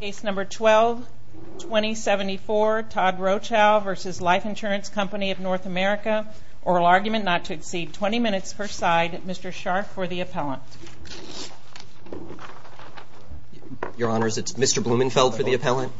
Case number 12-2074, Todd Rochow v. Life Insurance Company of North America. Oral argument not to exceed 20 minutes per side. Mr. Scharf for the appellant. Your Honors, it's Mr. Blumenfeld for the appellant.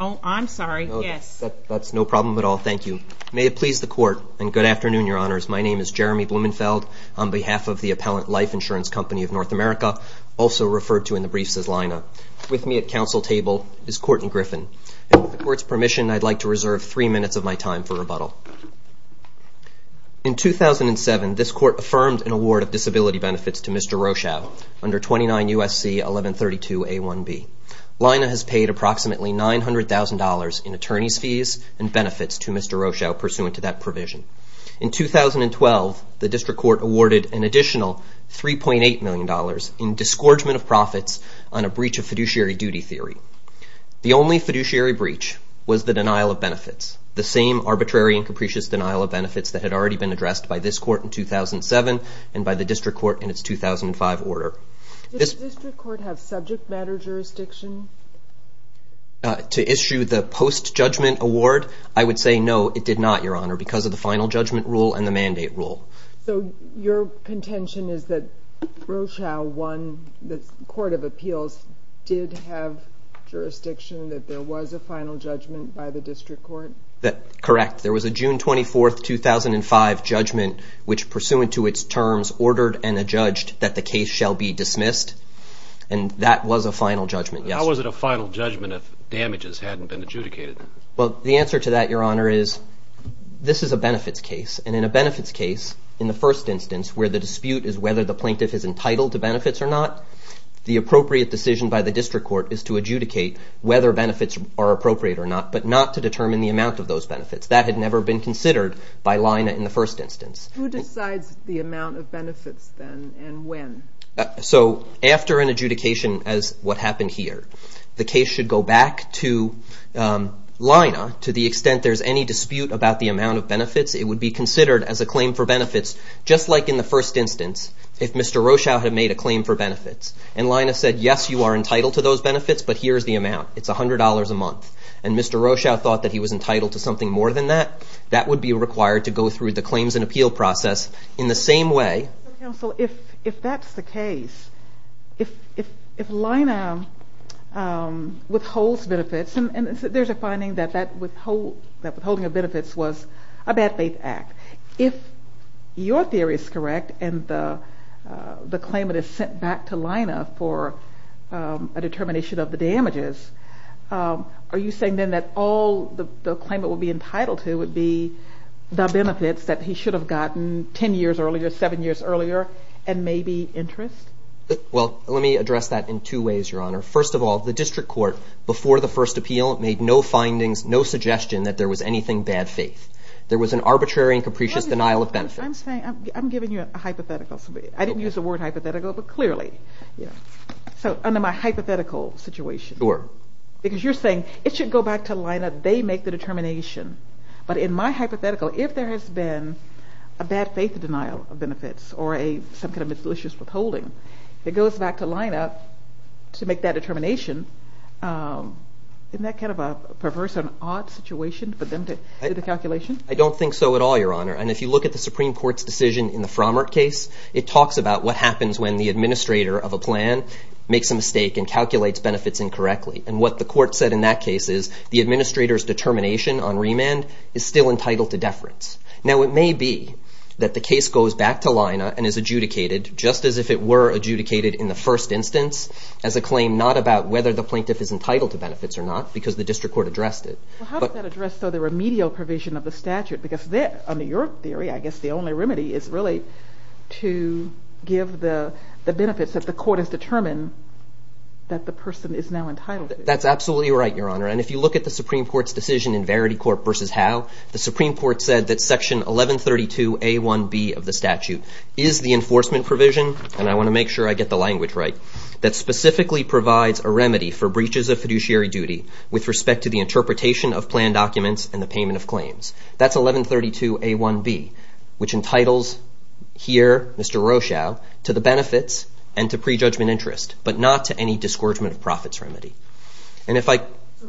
Oh, I'm sorry. Yes. That's no problem at all. Thank you. May it please the Court, and good afternoon, Your Honors. My name is Jeremy Blumenfeld on behalf of the appellant Life Insurance Company of North America, also referred to in the briefs as LINA. With me at counsel table is Courtney Griffin. With the Court's permission, I'd like to reserve three minutes of my time for rebuttal. In 2007, this Court affirmed an award of disability benefits to Mr. Rochow under 29 U.S.C. 1132a1b. LINA has paid approximately $900,000 in attorney's fees and benefits to Mr. Rochow pursuant to that provision. In 2012, the District Court awarded an additional $3.8 million in disgorgement of profits on a breach of fiduciary duty theory. The only fiduciary breach was the denial of benefits, the same arbitrary and capricious denial of benefits that had already been addressed by this Court in 2007 and by the District Court in its 2005 order. Did the District Court have subject matter jurisdiction? To issue the post-judgment award, I would say no, it did not, Your Honor, because of the final judgment rule and the mandate rule. So your contention is that Rochow won, the Court of Appeals did have jurisdiction, that there was a final judgment by the District Court? Correct. There was a June 24, 2005 judgment which, pursuant to its terms, ordered and adjudged that the case shall be dismissed. And that was a final judgment, yes. How was it a final judgment if damages hadn't been adjudicated? Well, the answer to that, Your Honor, is this is a benefits case, and in a benefits case, in the first instance, where the dispute is whether the plaintiff is entitled to benefits or not, the appropriate decision by the District Court is to adjudicate whether benefits are appropriate or not, but not to determine the amount of those benefits. That had never been considered by Lina in the first instance. Who decides the amount of benefits, then, and when? So after an adjudication, as what happened here, the case should go back to Lina, to the extent there's any dispute about the amount of benefits, it would be considered as a claim for benefits, just like in the first instance, if Mr. Rochow had made a claim for benefits, and Lina said, yes, you are entitled to those benefits, but here is the amount, it's $100 a month, and Mr. Rochow thought that he was entitled to something more than that, that would be required to go through the claims and appeal process in the same way. Counsel, if that's the case, if Lina withholds benefits, and there's a finding that withholding of benefits was a bad faith act, if your theory is correct and the claimant is sent back to Lina for a determination of the damages, are you saying then that all the claimant would be entitled to would be the benefits that he should have gotten 10 years earlier, 7 years earlier, and maybe interest? Well, let me address that in two ways, Your Honor. First of all, the district court, before the first appeal, made no findings, no suggestion that there was anything bad faith. There was an arbitrary and capricious denial of benefits. I'm saying, I'm giving you a hypothetical. I didn't use the word hypothetical, but clearly. So under my hypothetical situation. Sure. Because you're saying it should go back to Lina, they make the determination, but in my hypothetical, if there has been a bad faith denial of benefits or some kind of a malicious withholding, it goes back to Lina to make that determination. Isn't that kind of a perverse and odd situation for them to do the calculation? I don't think so at all, Your Honor. And if you look at the Supreme Court's decision in the Frommert case, it talks about what happens when the administrator of a plan makes a mistake and calculates benefits incorrectly. And what the court said in that case is the administrator's determination on remand is still entitled to deference. Now, it may be that the case goes back to Lina and is adjudicated, just as if it were adjudicated in the first instance, as a claim not about whether the plaintiff is entitled to benefits or not, because the district court addressed it. How does that address the remedial provision of the statute? Because under your theory, I guess the only remedy is really to give the benefits that the court has determined that the person is now entitled to. That's absolutely right, Your Honor. And if you look at the Supreme Court's decision in Verity Court v. Howe, the Supreme Court said that Section 1132a1b of the statute is the enforcement provision, and I want to make sure I get the language right, that specifically provides a remedy for breaches of fiduciary duty with respect to the interpretation of planned documents and the payment of claims. That's 1132a1b, which entitles here Mr. Rochelle to the benefits and to prejudgment interest, but not to any disgorgement of profits remedy. So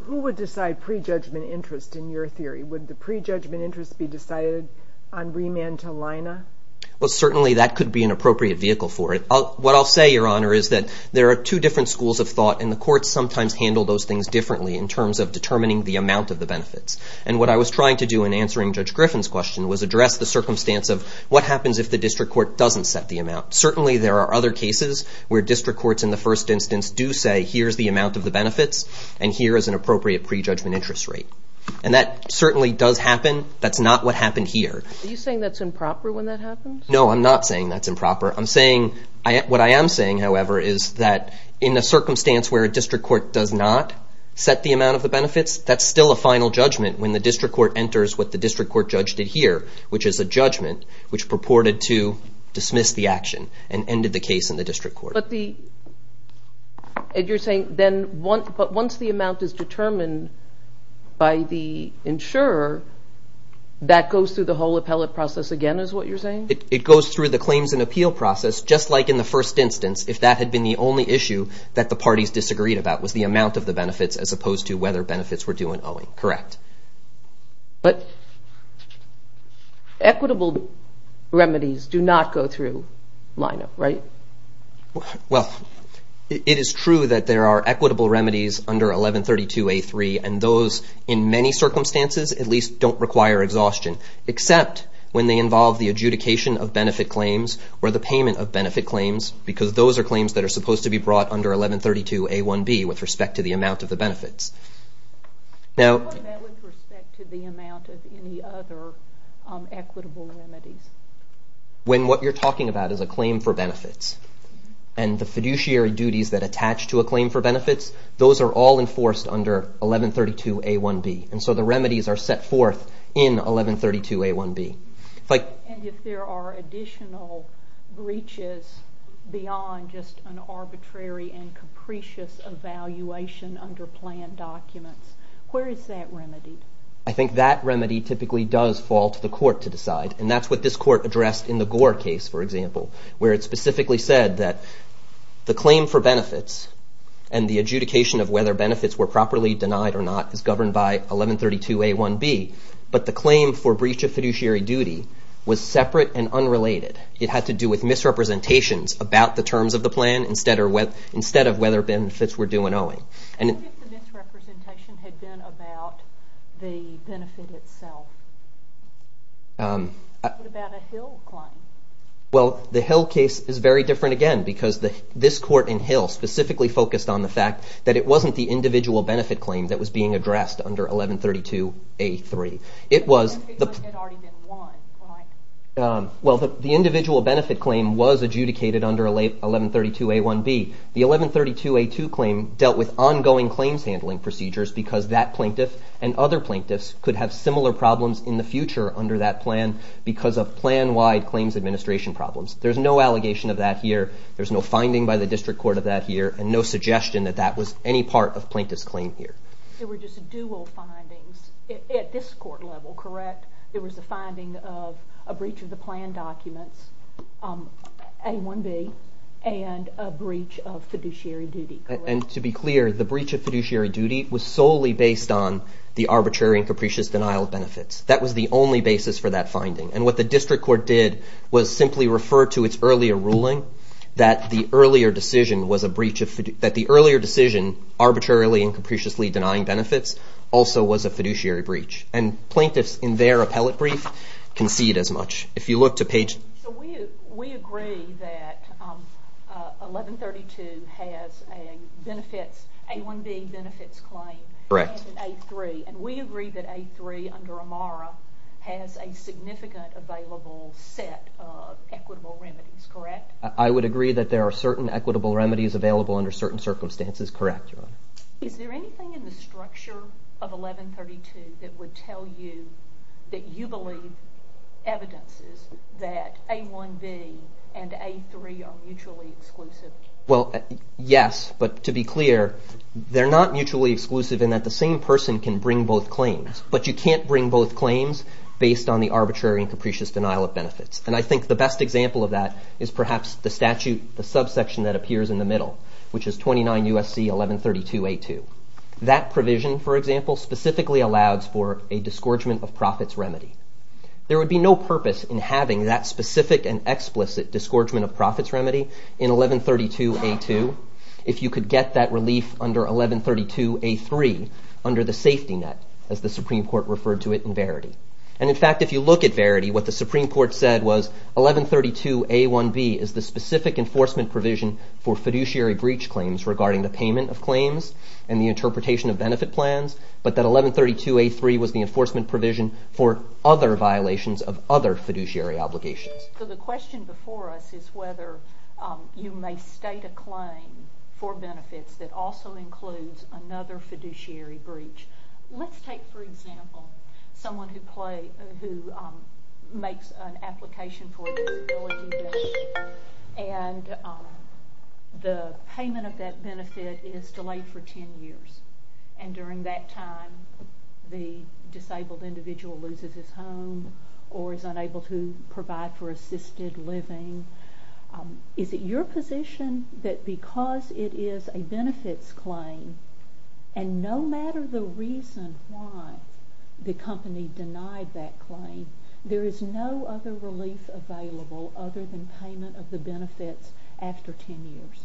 who would decide prejudgment interest in your theory? Would the prejudgment interest be decided on remand to Lina? Well, certainly that could be an appropriate vehicle for it. What I'll say, Your Honor, is that there are two different schools of thought, and the courts sometimes handle those things differently in terms of determining the amount of the benefits. And what I was trying to do in answering Judge Griffin's question was address the circumstance of what happens if the district court doesn't set the amount. Certainly there are other cases where district courts in the first instance do say, here's the amount of the benefits, and here is an appropriate prejudgment interest rate. And that certainly does happen. That's not what happened here. Are you saying that's improper when that happens? No, I'm not saying that's improper. I'm saying what I am saying, however, is that in a circumstance where a district court does not set the amount of the benefits, that's still a final judgment when the district court enters what the district court judge did here, which is a judgment which purported to dismiss the action and ended the case in the district court. But you're saying then once the amount is determined by the insurer, that goes through the whole appellate process again is what you're saying? It goes through the claims and appeal process just like in the first instance if that had been the only issue that the parties disagreed about was the amount of the benefits as opposed to whether benefits were due in owing. But equitable remedies do not go through lineup, right? Well, it is true that there are equitable remedies under 1132A3, and those in many circumstances at least don't require exhaustion, except when they involve the adjudication of benefit claims or the payment of benefit claims because those are claims that are supposed to be brought under 1132A1B with respect to the amount of the benefits. What about with respect to the amount of any other equitable remedies? When what you're talking about is a claim for benefits, and the fiduciary duties that attach to a claim for benefits, those are all enforced under 1132A1B, and so the remedies are set forth in 1132A1B. And if there are additional breaches beyond just an arbitrary and capricious evaluation under planned documents, where is that remedy? I think that remedy typically does fall to the court to decide, and that's what this court addressed in the Gore case, for example, where it specifically said that the claim for benefits and the adjudication of whether benefits were properly denied or not is governed by 1132A1B, but the claim for breach of fiduciary duty was separate and unrelated. It had to do with misrepresentations about the terms of the plan instead of whether benefits were due and owing. What if the misrepresentation had been about the benefit itself? What about a Hill claim? Well, the Hill case is very different again because this court in Hill specifically focused on the fact that it wasn't the individual benefit claim that was being addressed under 1132A3. It was... Because it had already been won, right? Well, the individual benefit claim was adjudicated under 1132A1B. The 1132A2 claim dealt with ongoing claims handling procedures because that plaintiff and other plaintiffs could have similar problems in the future under that plan because of plan-wide claims administration problems. There's no allegation of that here. There's no finding by the district court of that here, and no suggestion that that was any part of plaintiff's claim here. There were just dual findings at this court level, correct? There was a finding of a breach of the plan documents, A1B, and a breach of fiduciary duty, correct? And to be clear, the breach of fiduciary duty was solely based on the arbitrary and capricious denial of benefits. That was the only basis for that finding. And what the district court did was simply refer to its earlier ruling that the earlier decision arbitrarily and capriciously denying benefits also was a fiduciary breach. And plaintiffs in their appellate brief can see it as much. If you look to page... So we agree that 1132 has a A1B benefits claim and an A3, and we agree that A3 under AMARA has a significant available set of equitable remedies, correct? I would agree that there are certain equitable remedies available under certain circumstances, correct, Your Honor. Is there anything in the structure of 1132 that would tell you that you believe evidences that A1B and A3 are mutually exclusive? Well, yes, but to be clear, they're not mutually exclusive in that the same person can bring both claims. But you can't bring both claims based on the arbitrary and capricious denial of benefits. And I think the best example of that is perhaps the statute, the subsection that appears in the middle, which is 29 U.S.C. 1132 A2. That provision, for example, specifically allows for a disgorgement of profits remedy. There would be no purpose in having that specific and explicit disgorgement of profits remedy in 1132 A2 if you could get that relief under 1132 A3 under the safety net, as the Supreme Court referred to it in Verity. And in fact, if you look at Verity, what the Supreme Court said was 1132 A1B is the specific enforcement provision for fiduciary breach claims regarding the payment of claims and the interpretation of benefit plans, but that 1132 A3 was the enforcement provision for other violations of other fiduciary obligations. So the question before us is whether you may state a claim for benefits that also includes another fiduciary breach. Let's take, for example, someone who makes an application for a disability benefit and the payment of that benefit is delayed for 10 years. And during that time, the disabled individual loses his home or is unable to provide for assisted living. Is it your position that because it is a benefits claim and no matter the reason why the company denied that claim, there is no other relief available other than payment of the benefits after 10 years?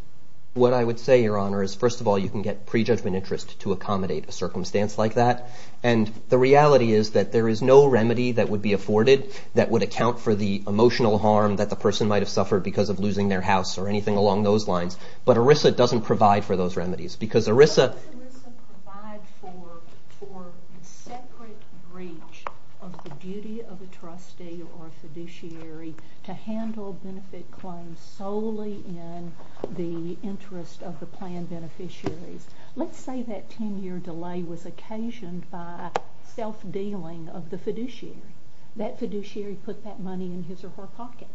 What I would say, Your Honor, is first of all, you can get prejudgment interest to accommodate a circumstance like that. And the reality is that there is no remedy that would be afforded that would account for the emotional harm that the person might have suffered because of losing their house or anything along those lines. But ERISA doesn't provide for those remedies because ERISA provides for the separate breach of the duty of the trustee or fiduciary to handle benefit claims solely in the interest of the plan beneficiaries. Let's say that 10-year delay was occasioned by self-dealing of the fiduciary. That fiduciary put that money in his or her pocket.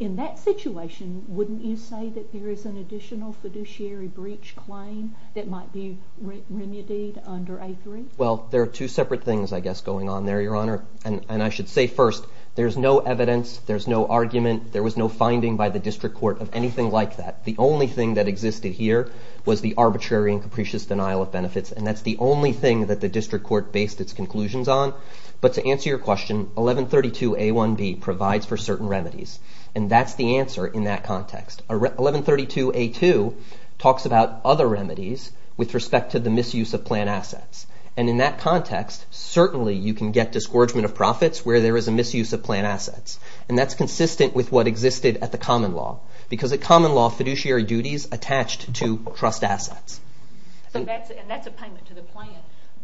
In that situation, wouldn't you say that there is an additional fiduciary breach claim that might be remedied under A-3? Well, there are two separate things, I guess, going on there, Your Honor. And I should say first, there's no evidence, there's no argument, there was no finding by the district court of anything like that. The only thing that existed here was the arbitrary and capricious denial of benefits. And that's the only thing that the district court based its conclusions on. But to answer your question, 1132 A-1B provides for certain remedies. And that's the answer in that context. 1132 A-2 talks about other remedies with respect to the misuse of plan assets. And in that context, certainly you can get discouragement of profits where there is a misuse of plan assets. And that's consistent with what existed at the common law because at common law, fiduciary duties attached to trust assets. And that's a payment to the plan.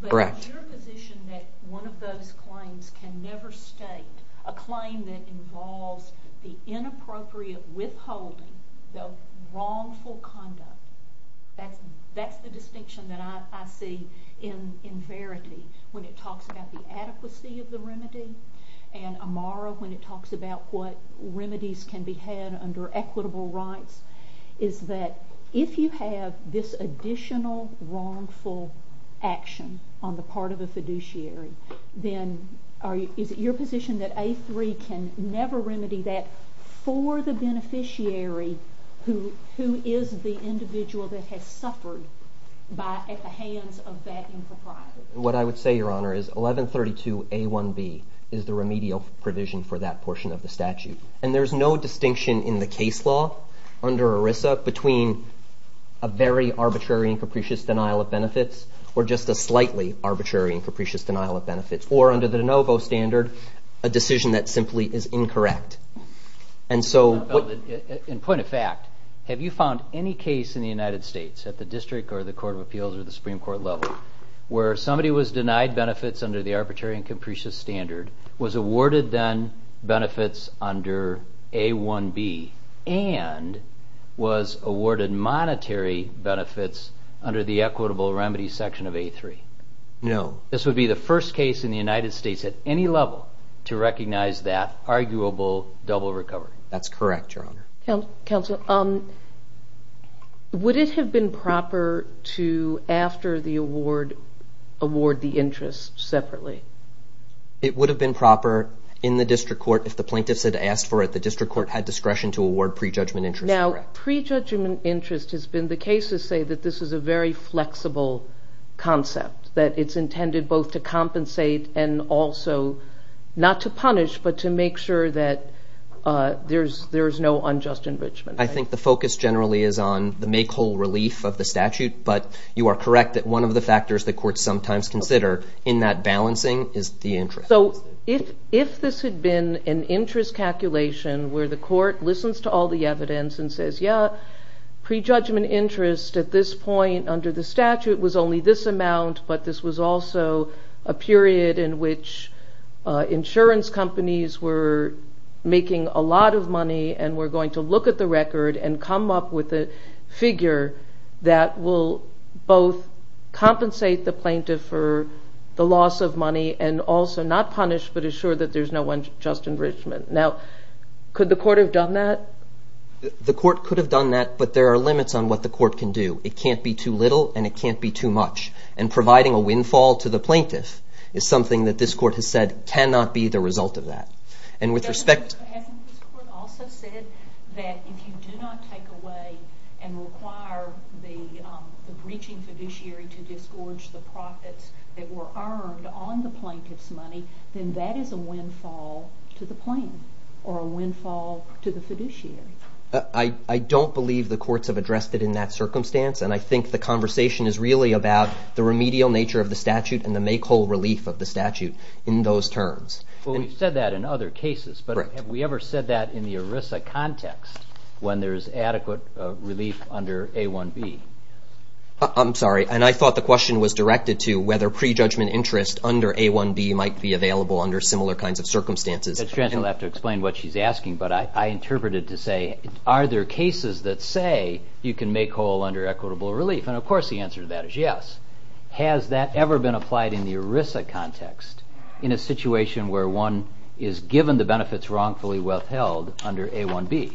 Correct. Is your position that one of those claims can never state a claim that involves the inappropriate withholding of wrongful conduct? That's the distinction that I see in Verity when it talks about the adequacy of the remedy and Amara when it talks about what remedies can be had under equitable rights is that if you have this additional wrongful action on the part of a fiduciary, then is it your position that A-3 can never remedy that for the beneficiary who is the individual that has suffered at the hands of that impropriety? What I would say, Your Honor, is 1132 A-1B is the remedial provision for that portion of the statute. And there is no distinction in the case law under ERISA between a very arbitrary and capricious denial of benefits or just a slightly arbitrary and capricious denial of benefits or under the de novo standard, a decision that simply is incorrect. In point of fact, have you found any case in the United States at the district or the court of appeals or the Supreme Court level where somebody was denied benefits under the arbitrary and capricious standard, was awarded then benefits under A-1B, and was awarded monetary benefits under the equitable remedy section of A-3? No. This would be the first case in the United States at any level to recognize that arguable double recovery? That's correct, Your Honor. Counsel, would it have been proper to, after the award, award the interest separately? It would have been proper in the district court, if the plaintiffs had asked for it, the district court had discretion to award pre-judgment interest. Now, pre-judgment interest has been the case to say that this is a very flexible concept, that it's intended both to compensate and also not to punish, but to make sure that there is no unjust enrichment. I think the focus generally is on the make-whole relief of the statute, but you are correct that one of the factors the courts sometimes consider in that balancing is the interest. So if this had been an interest calculation where the court listens to all the evidence and says, yeah, pre-judgment interest at this point under the statute was only this amount, but this was also a period in which insurance companies were making a lot of money and were going to look at the record and come up with a figure that will both compensate the plaintiff for the loss of money and also not punish, but assure that there is no unjust enrichment. Now, could the court have done that? The court could have done that, but there are limits on what the court can do. It can't be too little and it can't be too much. And providing a windfall to the plaintiff is something that this court has said cannot be the result of that. Hasn't this court also said that if you do not take away and require the breaching fiduciary to disgorge the profits that were earned on the plaintiff's money, then that is a windfall to the plan or a windfall to the fiduciary? I don't believe the courts have addressed it in that circumstance, and I think the conversation is really about the remedial nature of the statute and the make-whole relief of the statute in those terms. Well, we've said that in other cases, but have we ever said that in the ERISA context when there is adequate relief under A1B? I'm sorry, and I thought the question was directed to whether prejudgment interest under A1B might be available under similar kinds of circumstances. At this point, you'll have to explain what she's asking, but I interpreted it to say, are there cases that say you can make whole under equitable relief? And, of course, the answer to that is yes. Has that ever been applied in the ERISA context in a situation where one is given the benefits wrongfully withheld under A1B?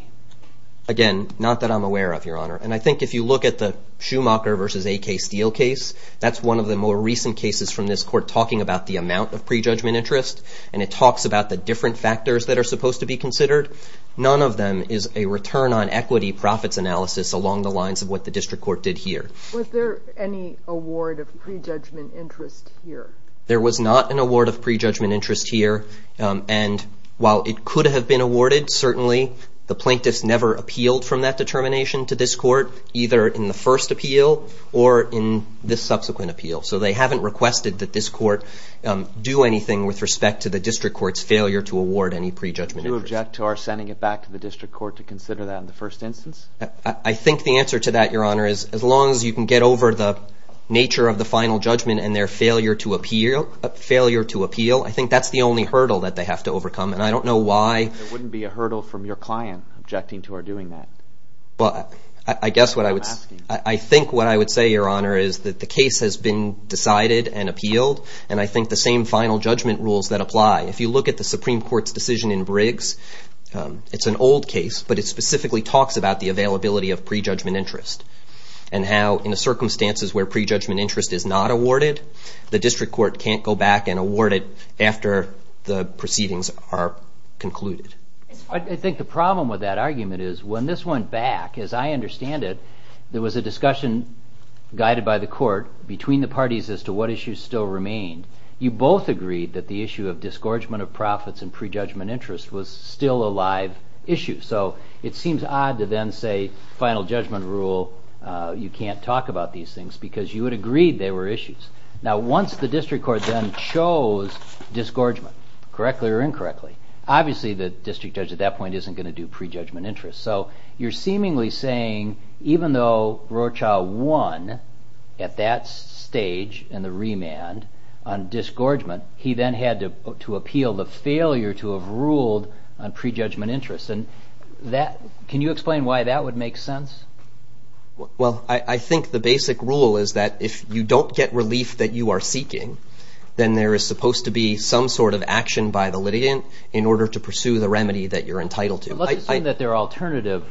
Again, not that I'm aware of, Your Honor, and I think if you look at the Schumacher v. A.K. Steel case, that's one of the more recent cases from this court talking about the amount of prejudgment interest, and it talks about the different factors that are supposed to be considered. None of them is a return on equity profits analysis along the lines of what the district court did here. Was there any award of prejudgment interest here? There was not an award of prejudgment interest here, and while it could have been awarded, certainly the plaintiffs never appealed from that determination to this court, either in the first appeal or in this subsequent appeal. So they haven't requested that this court do anything with respect to the district court's failure to award any prejudgment interest. Do you object to our sending it back to the district court to consider that in the first instance? I think the answer to that, Your Honor, is as long as you can get over the nature of the final judgment and their failure to appeal, I think that's the only hurdle that they have to overcome, and I don't know why. There wouldn't be a hurdle from your client objecting to our doing that? Well, I guess what I would say, Your Honor, is that the case has been decided and appealed, and I think the same final judgment rules that apply. If you look at the Supreme Court's decision in Briggs, it's an old case, but it specifically talks about the availability of prejudgment interest and how in circumstances where prejudgment interest is not awarded, the district court can't go back and award it after the proceedings are concluded. I think the problem with that argument is when this went back, as I understand it, there was a discussion guided by the court between the parties as to what issues still remained. You both agreed that the issue of disgorgement of profits and prejudgment interest was still a live issue, so it seems odd to then say final judgment rule, you can't talk about these things, because you had agreed they were issues. Now once the district court then chose disgorgement, correctly or incorrectly, obviously the district judge at that point isn't going to do prejudgment interest. So you're seemingly saying even though Rocha won at that stage in the remand on disgorgement, he then had to appeal the failure to have ruled on prejudgment interest. Can you explain why that would make sense? Well, I think the basic rule is that if you don't get relief that you are seeking, then there is supposed to be some sort of action by the litigant in order to pursue the remedy that you're entitled to. Let's assume that there are alternative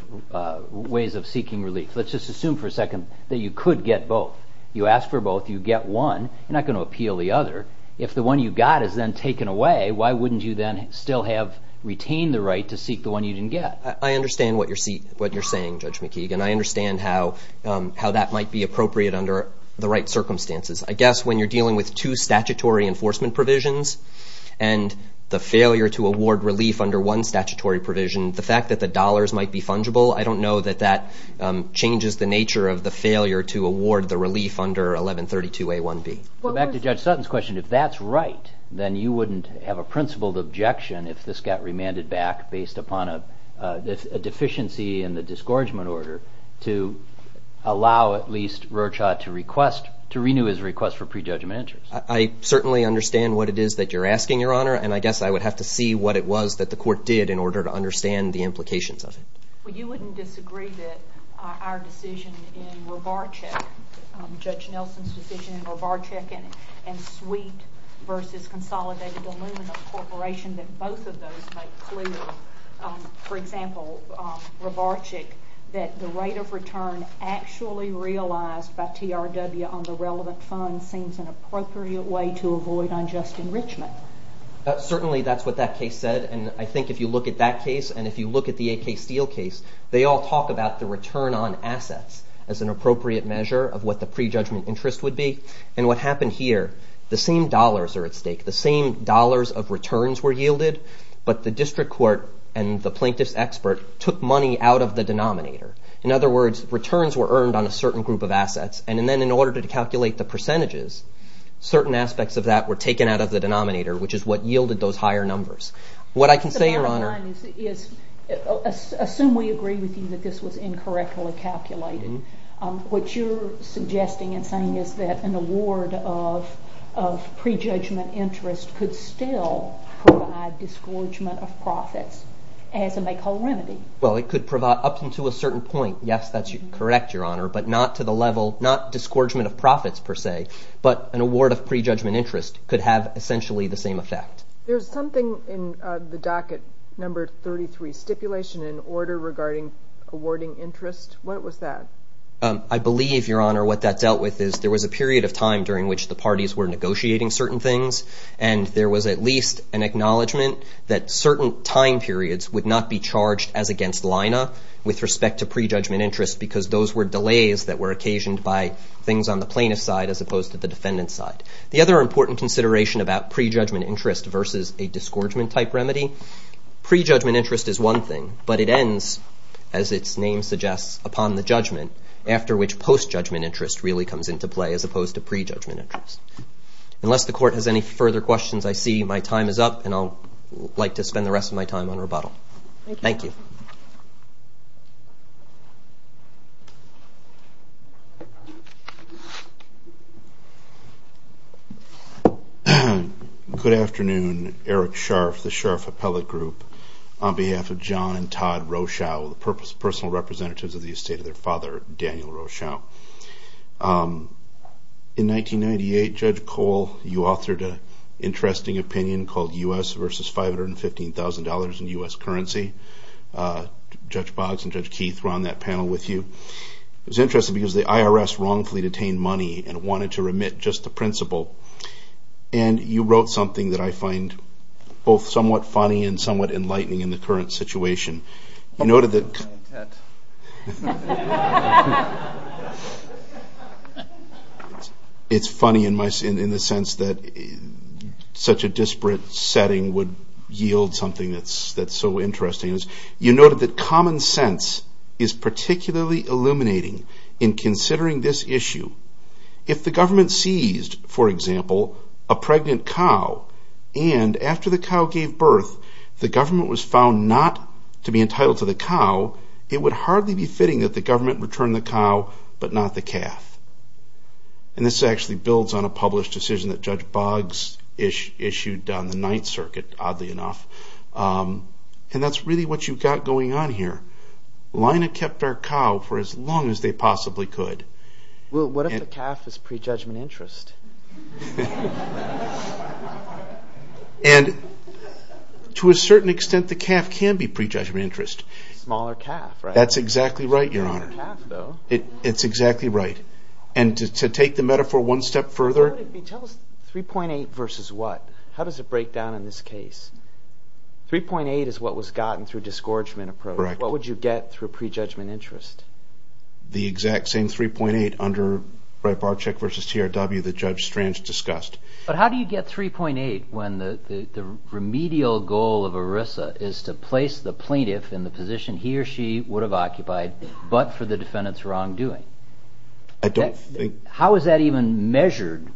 ways of seeking relief. Let's just assume for a second that you could get both. You ask for both, you get one, you're not going to appeal the other. If the one you got is then taken away, why wouldn't you then still have retained the right to seek the one you didn't get? I understand what you're saying, Judge McKeegan. I understand how that might be appropriate under the right circumstances. I guess when you're dealing with two statutory enforcement provisions and the failure to award relief under one statutory provision, the fact that the dollars might be fungible, I don't know that that changes the nature of the failure to award the relief under 1132A1B. Back to Judge Sutton's question, if that's right then you wouldn't have a principled objection if this got remanded back based upon a deficiency in the disgorgement order to allow at least Rocha to renew his request for pre-judgment interest. I certainly understand what it is that you're asking, Your Honor, and I guess I would have to see what it was that the court did in order to understand the implications of it. You wouldn't disagree that our decision in Rovarcheck, Judge Nelson's decision in Rovarcheck and Sweet v. Consolidated Aluminum Corporation, that both of those make clear, for example, Rovarcheck, that the rate of return actually realized by TRW on the relevant funds seems an appropriate way to avoid unjust enrichment. Certainly that's what that case said, and I think if you look at that case and if you look at the A.K. Steele case, they all talk about the return on assets as an appropriate measure of what the pre-judgment interest would be, and what happened here, the same dollars are at stake. The same dollars of returns were yielded, but the district court and the plaintiff's expert took money out of the denominator. In other words, returns were earned on a certain group of assets, and then in order to calculate the percentages, certain aspects of that were taken out of the denominator, which is what yielded those higher numbers. What I can say, Your Honor... The bottom line is, assume we agree with you that this was incorrectly calculated. What you're suggesting and saying is that an award of pre-judgment interest could still provide disgorgement of profits as a make-all remedy. Well, it could provide up until a certain point. Yes, that's correct, Your Honor, but not to the level, not disgorgement of profits per se, but an award of pre-judgment interest could have essentially the same effect. There's something in the docket number 33, stipulation and order regarding awarding interest. What was that? I believe, Your Honor, what that dealt with is there was a period of time during which the parties were negotiating certain things, and there was at least an acknowledgment that certain time periods would not be charged as against LINA with respect to pre-judgment interest because those were delays that were occasioned by things on the plaintiff's side as opposed to the defendant's side. The other important consideration about pre-judgment interest versus a disgorgement-type remedy, pre-judgment interest is one thing, but it ends, as its name suggests, upon the judgment, after which post-judgment interest really comes into play as opposed to pre-judgment interest. Unless the Court has any further questions, I see my time is up, and I'd like to spend the rest of my time on rebuttal. Thank you. Good afternoon. Eric Scharf, the Scharf Appellate Group. On behalf of John and Todd Rochow, the personal representatives of the estate of their father, Daniel Rochow. In 1998, Judge Cole, you authored an interesting opinion called U.S. versus $515,000 in U.S. currency. Judge Boggs and Judge Keith were on that panel with you. It was interesting because the IRS wrongfully detained money and wanted to remit just the principal, and you wrote something that I find both somewhat funny and somewhat enlightening in the current situation. It's funny in the sense that such a disparate setting would yield something that's so interesting. You noted that common sense is particularly illuminating in considering this issue. If the government seized, for example, a pregnant cow, and after the cow gave birth, the government was found not to be entitled to the cow, it would hardly be fitting that the government return the cow but not the calf. And this actually builds on a published decision that Judge Boggs issued on the Ninth Circuit, oddly enough. And that's really what you've got going on here. LINA kept our cow for as long as they possibly could. Well, what if the calf is prejudgment interest? And to a certain extent, the calf can be prejudgment interest. Smaller calf, right? That's exactly right, Your Honor. It's exactly right. And to take the metaphor one step further... Tell us 3.8 versus what. How does it break down in this case? 3.8 is what was gotten through disgorgement approach. What would you get through prejudgment interest? The exact same 3.8 under Barczyk versus TRW that Judge Strange discussed. But how do you get 3.8 when the remedial goal of ERISA is to place the plaintiff in the position he or she would have occupied but for the defendant's wrongdoing? I don't think... How is that even measured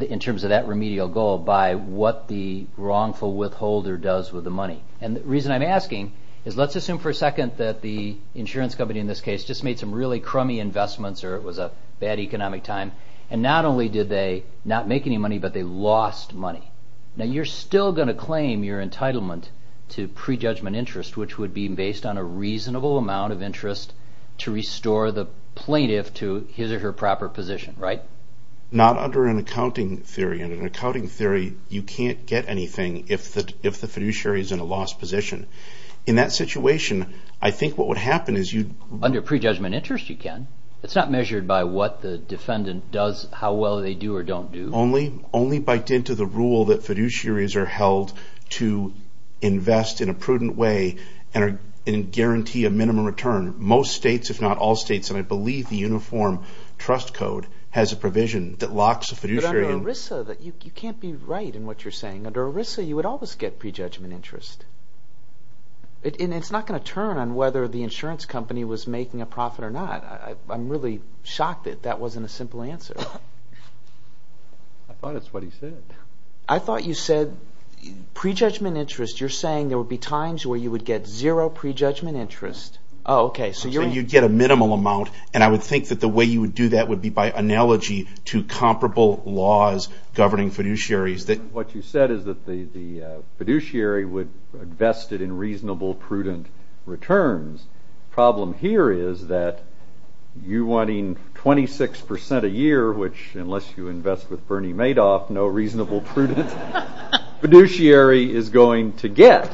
in terms of that remedial goal by what the wrongful withholder does with the money? And the reason I'm asking is let's assume for a second that the insurance company in this case just made some really crummy investments or it was a bad economic time. And not only did they not make any money but they lost money. Now you're still going to claim your entitlement to prejudgment interest which would be based on a reasonable amount of interest to restore the plaintiff to his or her proper position, right? Not under an accounting theory. Under an accounting theory you can't get anything if the fiduciary is in a lost position. In that situation I think what would happen is you'd... Under prejudgment interest you can. It's not measured by what the defendant does, how well they do or don't do? Only by dint of the rule that fiduciaries are held to invest in a prudent way and guarantee a minimum return. Most states, if not all states, and I believe the Uniform Trust Code has a provision that locks a fiduciary... But under ERISA you can't be right in what you're saying. Under ERISA you would always get prejudgment interest. And it's not going to turn on whether the insurance company was making a profit or not. I'm really shocked that that wasn't a simple answer. I thought that's what he said. I thought you said prejudgment interest. You're saying there would be times where you would get zero prejudgment interest. Oh, okay. So you'd get a minimal amount and I would think that the way you would do that would be by analogy to comparable laws governing fiduciaries that... What you said is that the fiduciary would invest it in reasonable, prudent returns. The problem here is that you wanting 26% a year, which unless you invest with Bernie Madoff, no reasonable prudent fiduciary is going to get.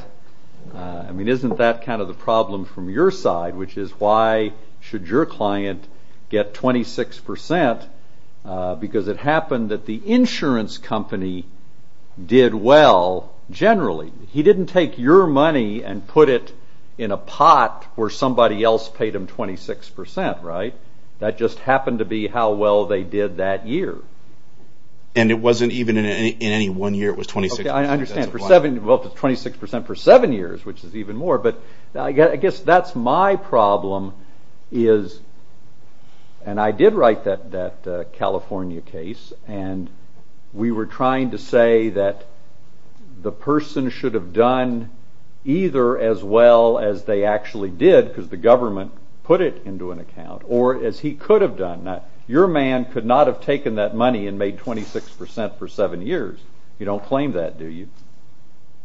I mean, isn't that kind of the problem from your side, which is why should your client get 26% because it happened that the insurance company did well generally. He didn't take your money and put it in a pot where somebody else paid him 26%, right? That just happened to be how well they did that year. And it wasn't even in any one year. It was 26%. Okay, I understand. For seven... Well, it's 26% for seven years, which is even more, but I guess that's my problem is... And I did write that California case and we were trying to say that the person should have done either as well as they actually did, because the government put it into an account, or as he could have done. Your man could not have taken that money and made 26% for seven years. You don't claim that, do you?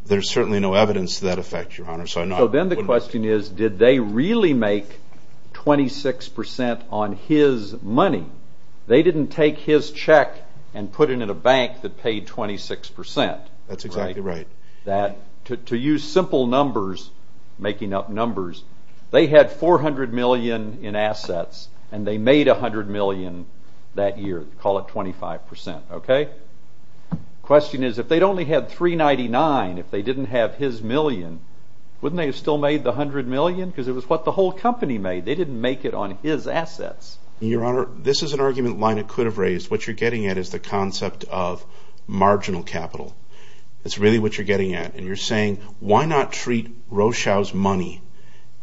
There's certainly no evidence to that effect, Your Honor. So then the question is, did they really make 26% on his money? They didn't take his check and put it in a bank that paid 26%. That's exactly right. To use simple numbers, making up numbers, they had $400 million in assets and they made $100 million that year. Call it 25%, okay? The question is, if they'd only had $399, if they didn't have his million, wouldn't they have still made the $100 million? Because it was what the whole company made. They didn't make it on his assets. Your Honor, this is an argument that Lina could have raised. What you're getting at is the concept of marginal capital. That's really what you're getting at. And you're saying, why not treat Rochelle's money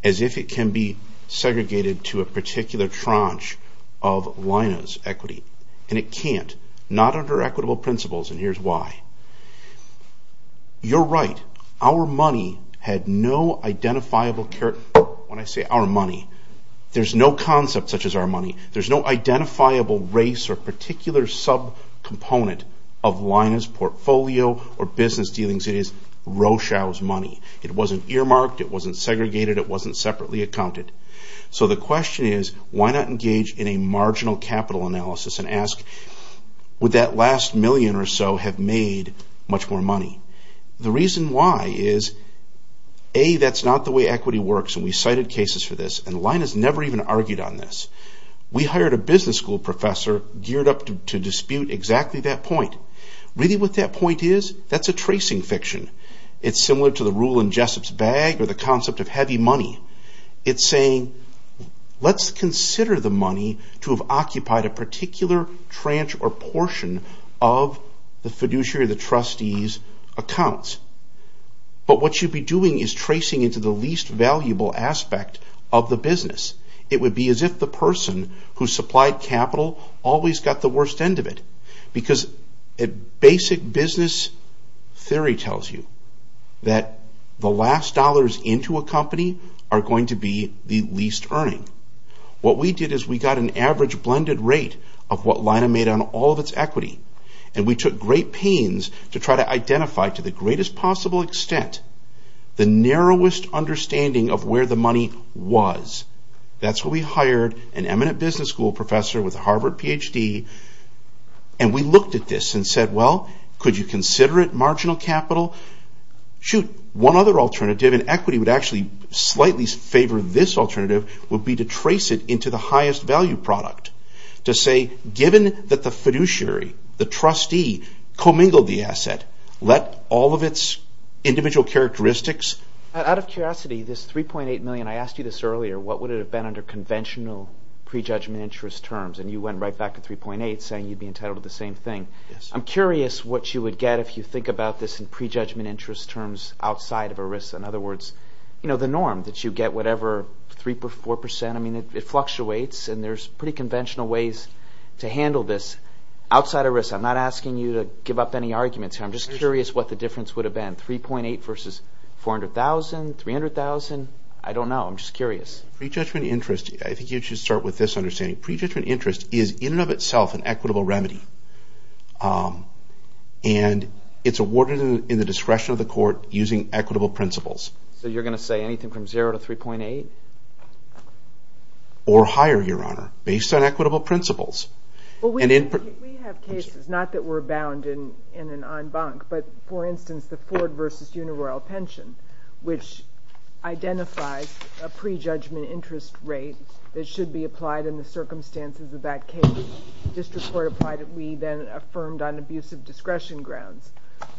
as if it can be segregated to a particular tranche of Lina's equity? And it can't. Not under equitable principles, and here's why. You're right. Our money had no identifiable character. When I say our money, there's no concept such as our money. There's no identifiable race or particular subcomponent of Lina's portfolio or business dealings. It is Rochelle's money. It wasn't earmarked. It wasn't segregated. It wasn't separately accounted. So the question is, why not engage in a marginal capital analysis and ask, would that last million or so have made much more money? The reason why is, A, that's not the way equity works, and we cited cases for this, and Lina's never even argued on this. We hired a business school professor geared up to dispute exactly that point. Really, what that point is, that's a tracing fiction. It's similar to the rule in Jessup's Bag or the concept of heavy money. It's saying, let's consider the money to have occupied a particular tranche or portion of the fiduciary or the trustee's accounts. But what you'd be doing is tracing into the least valuable aspect of the business. It would be as if the person who supplied capital always got the worst end of it because a basic business theory tells you that the last dollars into a company are going to be the least earning. What we did is we got an average blended rate of what Lina made on all of its equity, and we took great pains to try to identify, to the greatest possible extent, the narrowest understanding of where the money was. That's why we hired an eminent business school professor with a Harvard PhD, and we looked at this and said, well, could you consider it marginal capital? Shoot, one other alternative, and equity would actually slightly favor this alternative, would be to trace it into the highest value product. To say, given that the fiduciary, the trustee, commingled the asset, let all of its individual characteristics... Out of curiosity, this 3.8 million, I asked you this earlier, what would it have been under conventional prejudgment interest terms, and you went right back to 3.8 saying you'd be entitled to the same thing. I'm curious what you would get if you think about this in prejudgment interest terms outside of ERISA. In other words, the norm that you get, whatever, 3% or 4%. I mean, it fluctuates, and there's pretty conventional ways to handle this outside ERISA. I'm not asking you to give up any arguments here. I'm just curious what the difference would have been. 3.8 versus 400,000, 300,000? I don't know. I'm just curious. Prejudgment interest, I think you should start with this understanding. Prejudgment interest is, in and of itself, an equitable remedy. And it's awarded in the discretion of the court using equitable principles. So you're going to say anything from 0 to 3.8? Or higher, Your Honor, based on equitable principles. We have cases, not that we're bound in an en banc, but, for instance, the Ford versus Uniroyal pension, which identifies a prejudgment interest rate that should be applied in the circumstances of that case. The district court applied it. We then affirmed on abusive discretion grounds.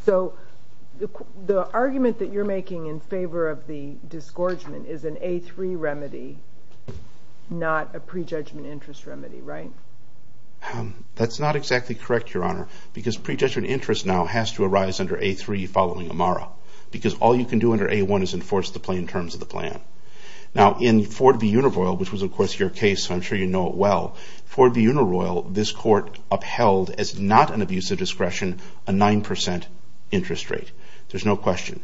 So the argument that you're making in favor of the disgorgement is an A3 remedy, not a prejudgment interest remedy, right? That's not exactly correct, Your Honor, because prejudgment interest now has to arise under A3 following Amara, because all you can do under A1 is enforce the plain terms of the plan. Now, in Ford v. Uniroyal, which was, of course, your case, so I'm sure you know it well, Ford v. Uniroyal, this court upheld, as not an abusive discretion, a 9% interest rate. There's no question.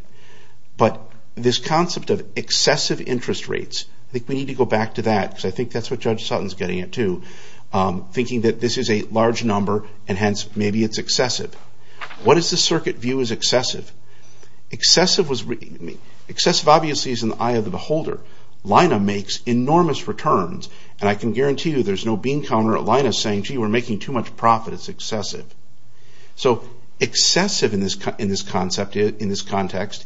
But this concept of excessive interest rates, I think we need to go back to that, because I think that's what Judge Sutton's getting at, too, thinking that this is a large number, and hence, maybe it's excessive. What is the circuit view as excessive? Excessive obviously is in the eye of the beholder. Lina makes enormous returns, and I can guarantee you there's no bean counter at Lina saying, gee, we're making too much profit. It's excessive. So excessive in this context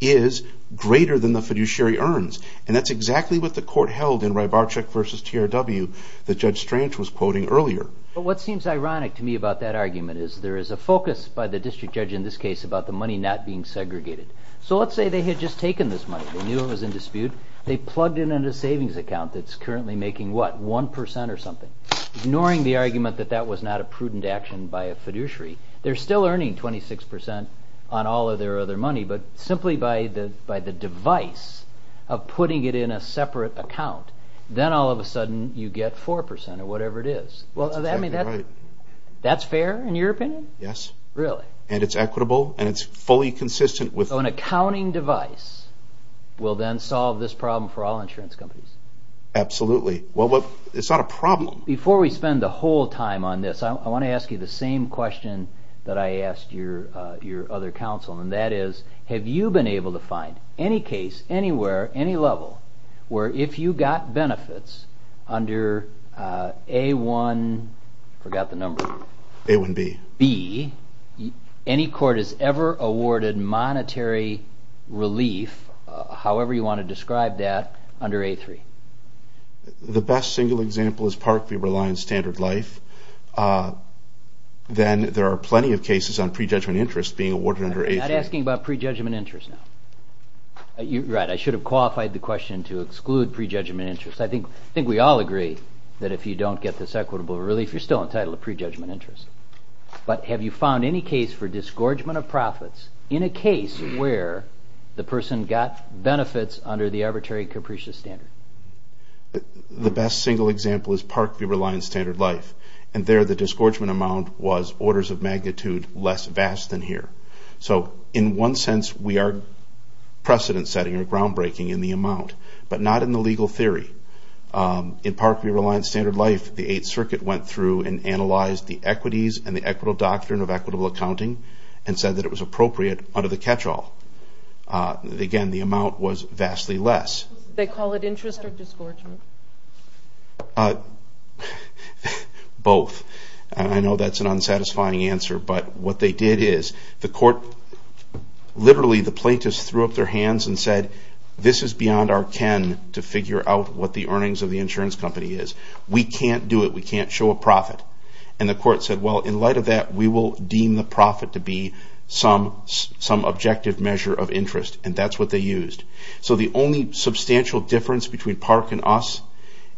is greater than the fiduciary earns, and that's exactly what the court held in Rybarczyk v. TRW that Judge Strange was quoting earlier. But what seems ironic to me about that argument is there is a focus by the district judge in this case about the money not being segregated. So let's say they had just taken this money. They knew it was in dispute. They plugged it in a savings account that's currently making, what, 1% or something, ignoring the argument that that was not a prudent action by a fiduciary. They're still earning 26% on all of their other money, but simply by the device of putting it in a separate account, then all of a sudden you get 4% or whatever it is. That's exactly right. That's fair in your opinion? Yes. Really? And it's equitable, and it's fully consistent with... So an accounting device will then solve this problem for all insurance companies. Absolutely. Well, it's not a problem. Before we spend the whole time on this, I want to ask you the same question that I asked your other counsel, and that is, have you been able to find any case, anywhere, any level, where if you got benefits under A1... I forgot the number. A1B. B, any court has ever awarded monetary relief, however you want to describe that, under A3? The best single example is Parkview Reliance Standard Life. Then there are plenty of cases on pre-judgment interest being awarded under A3. I'm not asking about pre-judgment interest now. Right, I should have qualified the question to exclude pre-judgment interest. I think we all agree that if you don't get this equitable relief, you're still entitled to pre-judgment interest. But have you found any case for disgorgement of profits in a case where the person got benefits under the arbitrary capricious standard? The best single example is Parkview Reliance Standard Life, and there the disgorgement amount was orders of magnitude less vast than here. So in one sense, we are precedent-setting or groundbreaking in the amount, but not in the legal theory. In Parkview Reliance Standard Life, the Eighth Circuit went through and analyzed the equities and the equitable doctrine of equitable accounting and said that it was appropriate under the catch-all. Again, the amount was vastly less. They call it interest or disgorgement? Both. I know that's an unsatisfying answer, but what they did is, literally the plaintiffs threw up their hands and said, this is beyond our ken to figure out what the earnings of the insurance company is. We can't do it. We can't show a profit. And the court said, well, in light of that, we will deem the profit to be some objective measure of interest, and that's what they used. So the only substantial difference between Park and us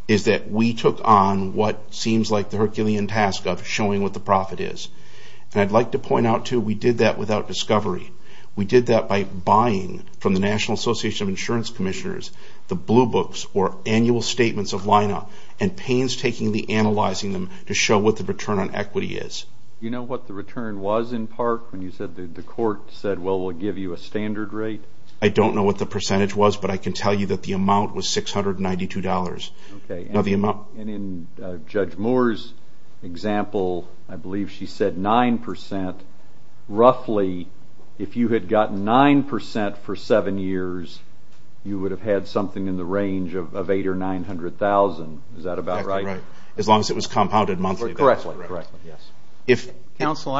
is that we took on what seems like the Herculean task of showing what the profit is. And I'd like to point out, too, we did that without discovery. We did that by buying from the National Association of Insurance Commissioners the blue books or annual statements of line-up and painstakingly analyzing them to show what the return on equity is. You know what the return was in Park when you said the court said, well, we'll give you a standard rate? I don't know what the percentage was, but I can tell you that the amount was $692. And in Judge Moore's example, I believe she said 9%. Roughly, if you had gotten 9% for seven years, you would have had something in the range of $800,000 or $900,000. Is that about right? As long as it was compounded monthly. Correctly. Counsel,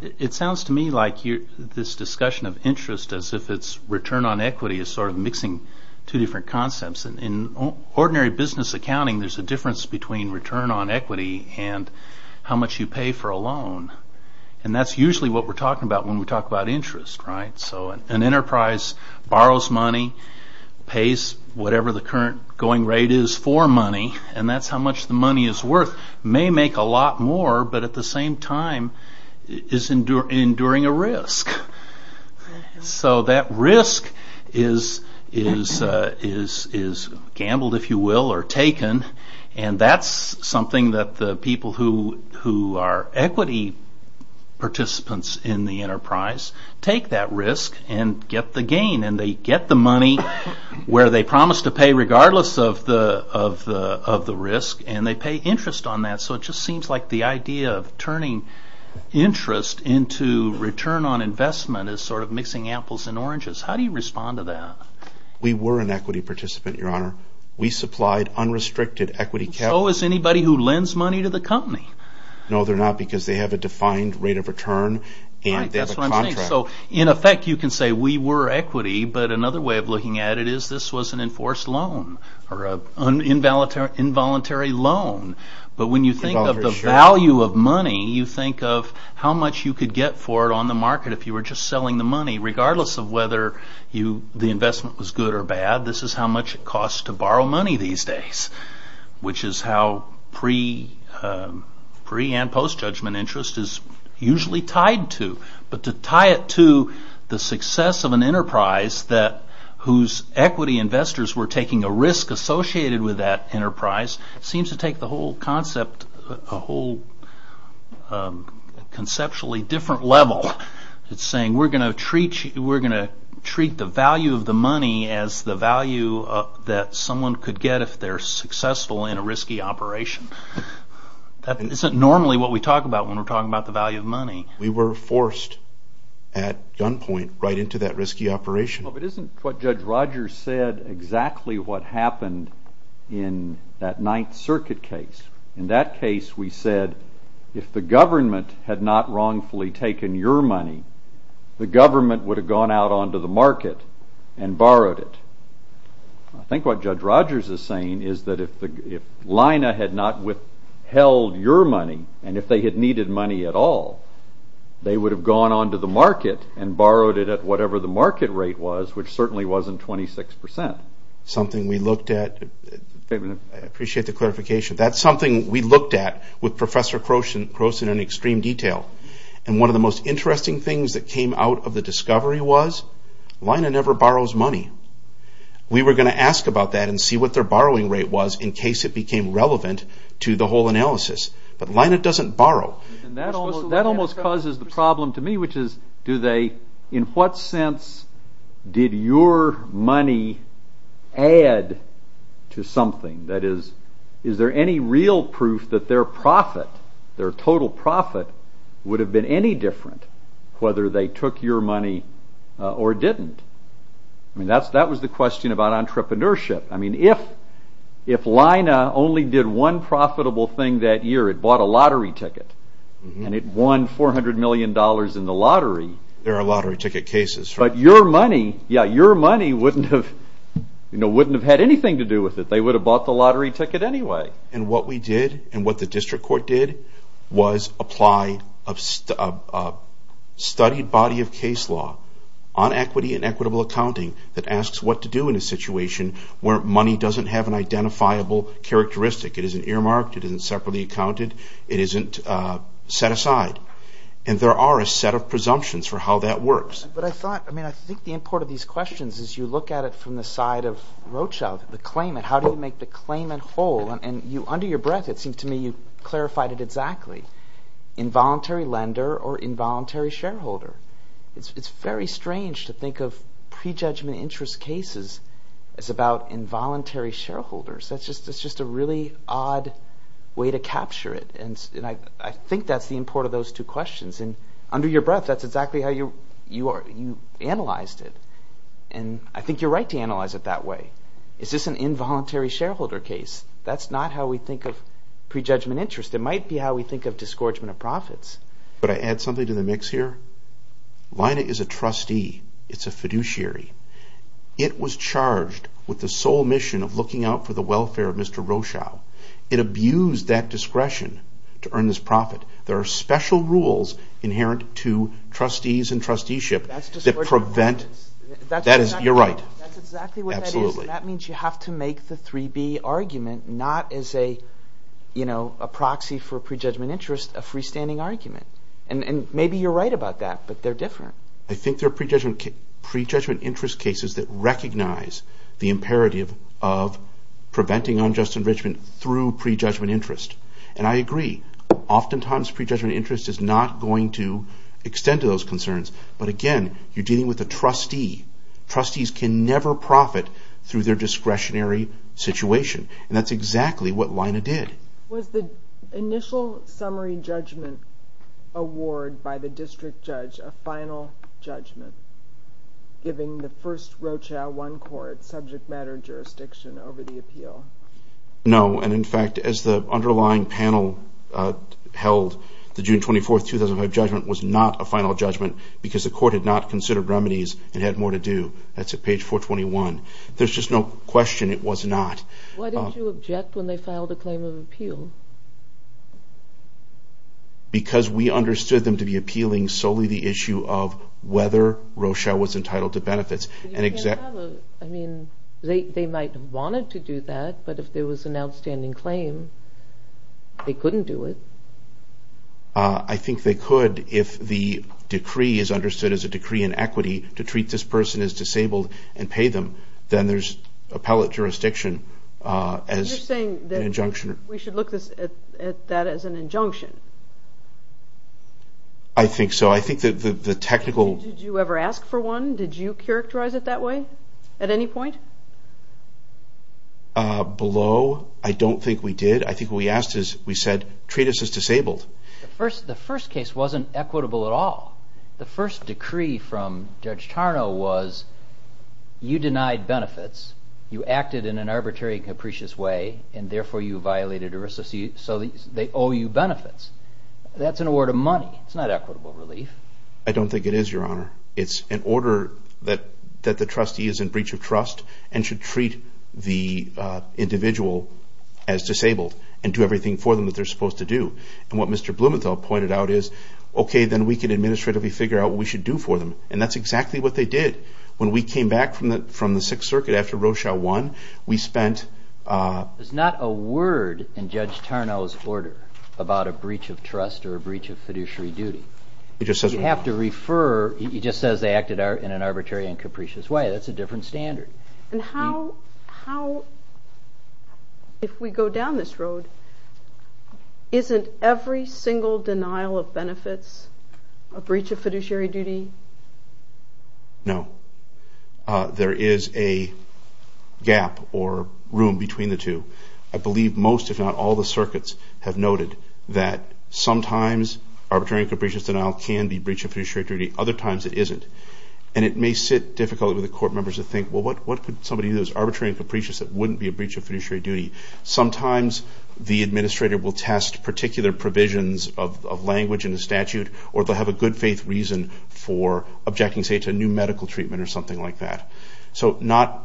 it sounds to me like this discussion of interest as if its return on equity is sort of mixing two different concepts. In ordinary business accounting, there's a difference between return on equity and how much you pay for a loan. And that's usually what we're talking about when we talk about interest. An enterprise borrows money, pays whatever the current going rate is for money, and that's how much the money is worth. It may make a lot more, but at the same time, it's enduring a risk. So that risk is gambled, if you will, or taken. And that's something that the people who are equity participants in the enterprise take that risk and get the gain. And they get the money where they promised to pay regardless of the risk, and they pay interest on that. So it just seems like the idea of turning interest into return on investment is sort of mixing apples and oranges. How do you respond to that? We were an equity participant, Your Honor. We supplied unrestricted equity capital. So is anybody who lends money to the company. No, they're not, because they have a defined rate of return and they have a contract. Right, that's what I'm saying. So in effect, you can say we were equity, but another way of looking at it is this was an enforced loan or an involuntary loan. But when you think of the value of money, you think of how much you could get for it on the market if you were just selling the money, regardless of whether the investment was good or bad. This is how much it costs to borrow money these days, which is how pre- and post-judgment interest is usually tied to. But to tie it to the success of an enterprise whose equity investors were taking a risk associated with that enterprise seems to take the whole concept a whole conceptually different level. It's saying we're going to treat the value of the money as the value that someone could get if they're successful in a risky operation. That isn't normally what we talk about when we're talking about the value of money. We were forced at gunpoint right into that risky operation. Well, but isn't what Judge Rogers said exactly what happened in that Ninth Circuit case? In that case, we said, if the government had not wrongfully taken your money, the government would have gone out onto the market and borrowed it. I think what Judge Rogers is saying is that if LINA had not withheld your money and if they had needed money at all, they would have gone onto the market and borrowed it at whatever the market rate was, which certainly wasn't 26%. Something we looked at. I appreciate the clarification. That's something we looked at with Professor Croson in extreme detail. And one of the most interesting things that came out of the discovery was LINA never borrows money. We were going to ask about that and see what their borrowing rate was in case it became relevant to the whole analysis. But LINA doesn't borrow. That almost causes the problem to me, which is, in what sense did your money add to something? Is there any real proof that their profit, their total profit, would have been any different whether they took your money or didn't? That was the question about entrepreneurship. If LINA only did one profitable thing that year, it bought a lottery ticket and it won $400 million in the lottery. There are lottery ticket cases. But your money wouldn't have had anything to do with it. They would have bought the lottery ticket anyway. And what we did, and what the district court did, was apply a studied body of case law on equity and equitable accounting that asks what to do in a situation where money doesn't have an identifiable characteristic. It isn't earmarked. It isn't separately accounted. It isn't set aside. And there are a set of presumptions for how that works. But I thought, I mean, I think the import of these questions is you look at it from the side of Rothschild, the claimant. How do you make the claimant whole? And under your breath, it seems to me, you clarified it exactly. Involuntary lender or involuntary shareholder. It's very strange to think of prejudgment interest cases as about involuntary shareholders. It's just a really odd way to capture it. And I think that's the import of those two questions. And under your breath, that's exactly how you analyzed it. And I think you're right to analyze it that way. It's just an involuntary shareholder case. That's not how we think of prejudgment interest. It might be how we think of disgorgement of profits. But I add something to the mix here. Lina is a trustee. It's a fiduciary. It was charged with the sole mission of looking out for the welfare of Mr. Rothschild. It abused that discretion to earn this profit. There are special rules inherent to trustees and trusteeship that prevent... You're right. Absolutely. That means you have to make the 3B argument not as a proxy for prejudgment interest, a freestanding argument. And maybe you're right about that, but they're different. I think there are prejudgment interest cases that recognize the imperative of preventing unjust enrichment through prejudgment interest. And I agree. Oftentimes prejudgment interest is not going to extend to those concerns. But again, you're dealing with a trustee. Trustees can never profit through their discretionary situation. And that's exactly what Lina did. Was the initial summary judgment award by the district judge a final judgment, giving the first Rochelle I Court subject matter jurisdiction over the appeal? No. And in fact, as the underlying panel held, the June 24, 2005 judgment was not a final judgment because the court had not considered remedies and had more to do. That's at page 421. There's just no question it was not. Why didn't you object when they filed a claim of appeal? Because we understood them to be appealing solely the issue of whether Rochelle was entitled to benefits. They might have wanted to do that, but if there was an outstanding claim, they couldn't do it. I think they could if the decree is understood as a decree in equity to treat this person as disabled and pay them. Then there's appellate jurisdiction as an injunction. We should look at that as an injunction. I think so. Did you ever ask for one? Did you characterize it that way at any point? Below, I don't think we did. I think what we asked is, we said, treat us as disabled. The first case wasn't equitable at all. The first decree from Judge Tarnow was you denied benefits, you acted in an arbitrary and capricious way, and therefore you violated ERISA. They owe you benefits. That's an award of money. It's not equitable relief. I don't think it is, Your Honor. It's an order that the trustee is in breach of trust and should treat the individual as disabled and do everything for them that they're supposed to do. What Mr. Blumenthal pointed out is, okay, then we can administratively figure out what we should do for them. That's exactly what they did. When we came back from the Sixth Circuit after Rochelle won, we spent... There's not a word in Judge Tarnow's order about a breach of trust or a breach of fiduciary duty. He just says they acted in an arbitrary and capricious way. That's a different standard. How, if we go down this road, isn't every single denial of benefits a breach of fiduciary duty? No. There is a gap or room between the two. I believe most, if not all, the circuits have noted that sometimes arbitrary and capricious denial can be a breach of fiduciary duty, other times it isn't. And it may sit difficultly with the court members to think, well, what could somebody do that's arbitrary and capricious that wouldn't be a breach of fiduciary duty? Sometimes the administrator will test particular provisions of language in the statute, or they'll have a good-faith reason for objecting, say, to a new medical treatment or something like that. So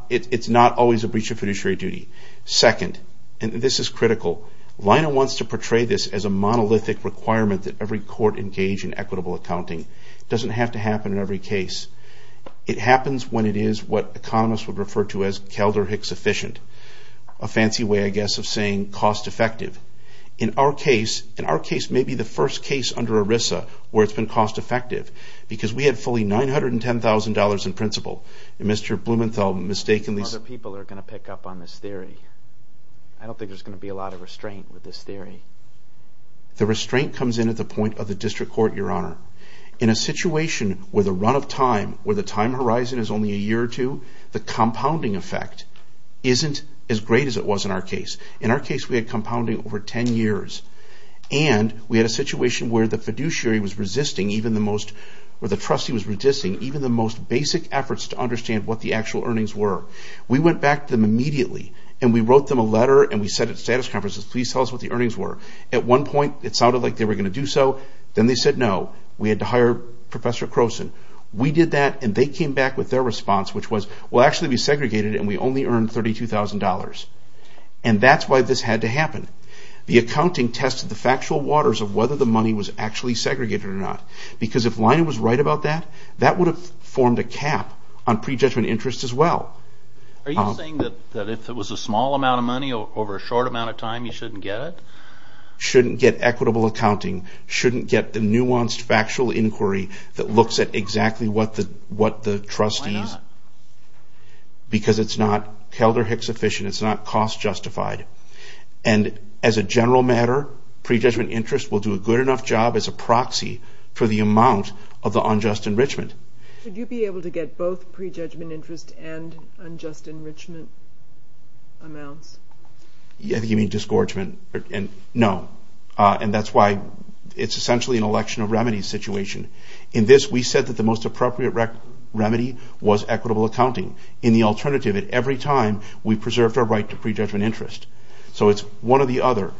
it's not always a breach of fiduciary duty. Second, and this is critical, Leina wants to portray this as a monolithic requirement that every court engage in equitable accounting. It doesn't have to happen in every case. It happens when it is what economists would refer to as Kelder-Hicks efficient, a fancy way, I guess, of saying cost-effective. In our case, maybe the first case under ERISA where it's been cost-effective, because we had fully $910,000 in principal, and Mr. Blumenthal mistakenly... Other people are going to pick up on this theory. I don't think there's going to be a lot of restraint with this theory. The restraint comes in at the point of the district court, Your Honor. In a situation where the run of time, where the time horizon is only a year or two, the compounding effect isn't as great as it was in our case. In our case, we had compounding over 10 years. And we had a situation where the fiduciary was resisting even the most... where the trustee was resisting even the most basic efforts to understand what the actual earnings were. We went back to them immediately, and we wrote them a letter, and we said at status conferences, please tell us what the earnings were. At one point, it sounded like they were going to do so. Then they said no. We had to hire Professor Croson. We did that, and they came back with their response, which was, we'll actually be segregated, and we only earned $32,000. And that's why this had to happen. The accounting tested the factual waters of whether the money was actually segregated or not. Because if Lion was right about that, that would have formed a cap on prejudgment interest as well. Are you saying that if it was a small amount of money over a short amount of time, you shouldn't get it? Shouldn't get equitable accounting. Shouldn't get the nuanced factual inquiry that looks at exactly what the trustees... Because it's not Helder-Hicks efficient. It's not cost justified. And as a general matter, prejudgment interest will do a good enough job as a proxy for the amount of the unjust enrichment. Could you be able to get both prejudgment interest and unjust enrichment amounts? You mean disgorgement? No. And that's why it's essentially an election of remedies situation. In this, we said that the most appropriate remedy was equitable accounting. In the alternative, at every time, we preserved our right to prejudgment interest. So it's one or the other.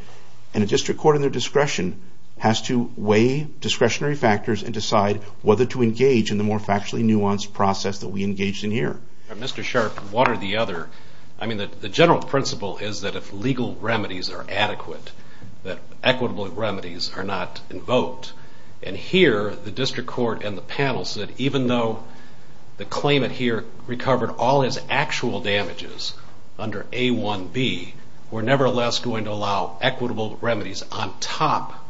And a district court in their discretion has to weigh discretionary factors and decide whether to engage in the more factually nuanced process that we engaged in here. Mr. Sharp, one or the other. I mean, the general principle is that if legal remedies are adequate, that equitable remedies are not invoked. And here, the district court and the panel said even though the claimant here recovered all his actual damages under A1B, we're nevertheless going to allow equitable remedies on top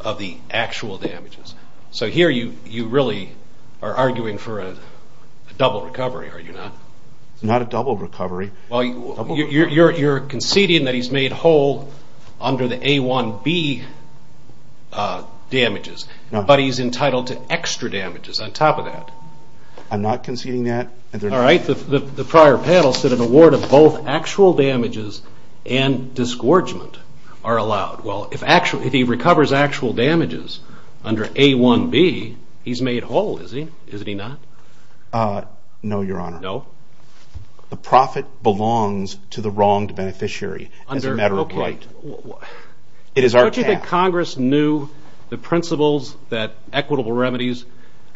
of the actual damages. So here you really are arguing for a double recovery, are you not? It's not a double recovery. Well, you're conceding that he's made whole under the A1B damages, but he's entitled to extra damages on top of that. I'm not conceding that. All right, the prior panel said an award of both actual damages and disgorgement are allowed. Well, if he recovers actual damages under A1B, he's made whole, is he not? No, Your Honor. The profit belongs to the wronged beneficiary as a matter of right. It is our task. Don't you think Congress knew the principles that equitable remedies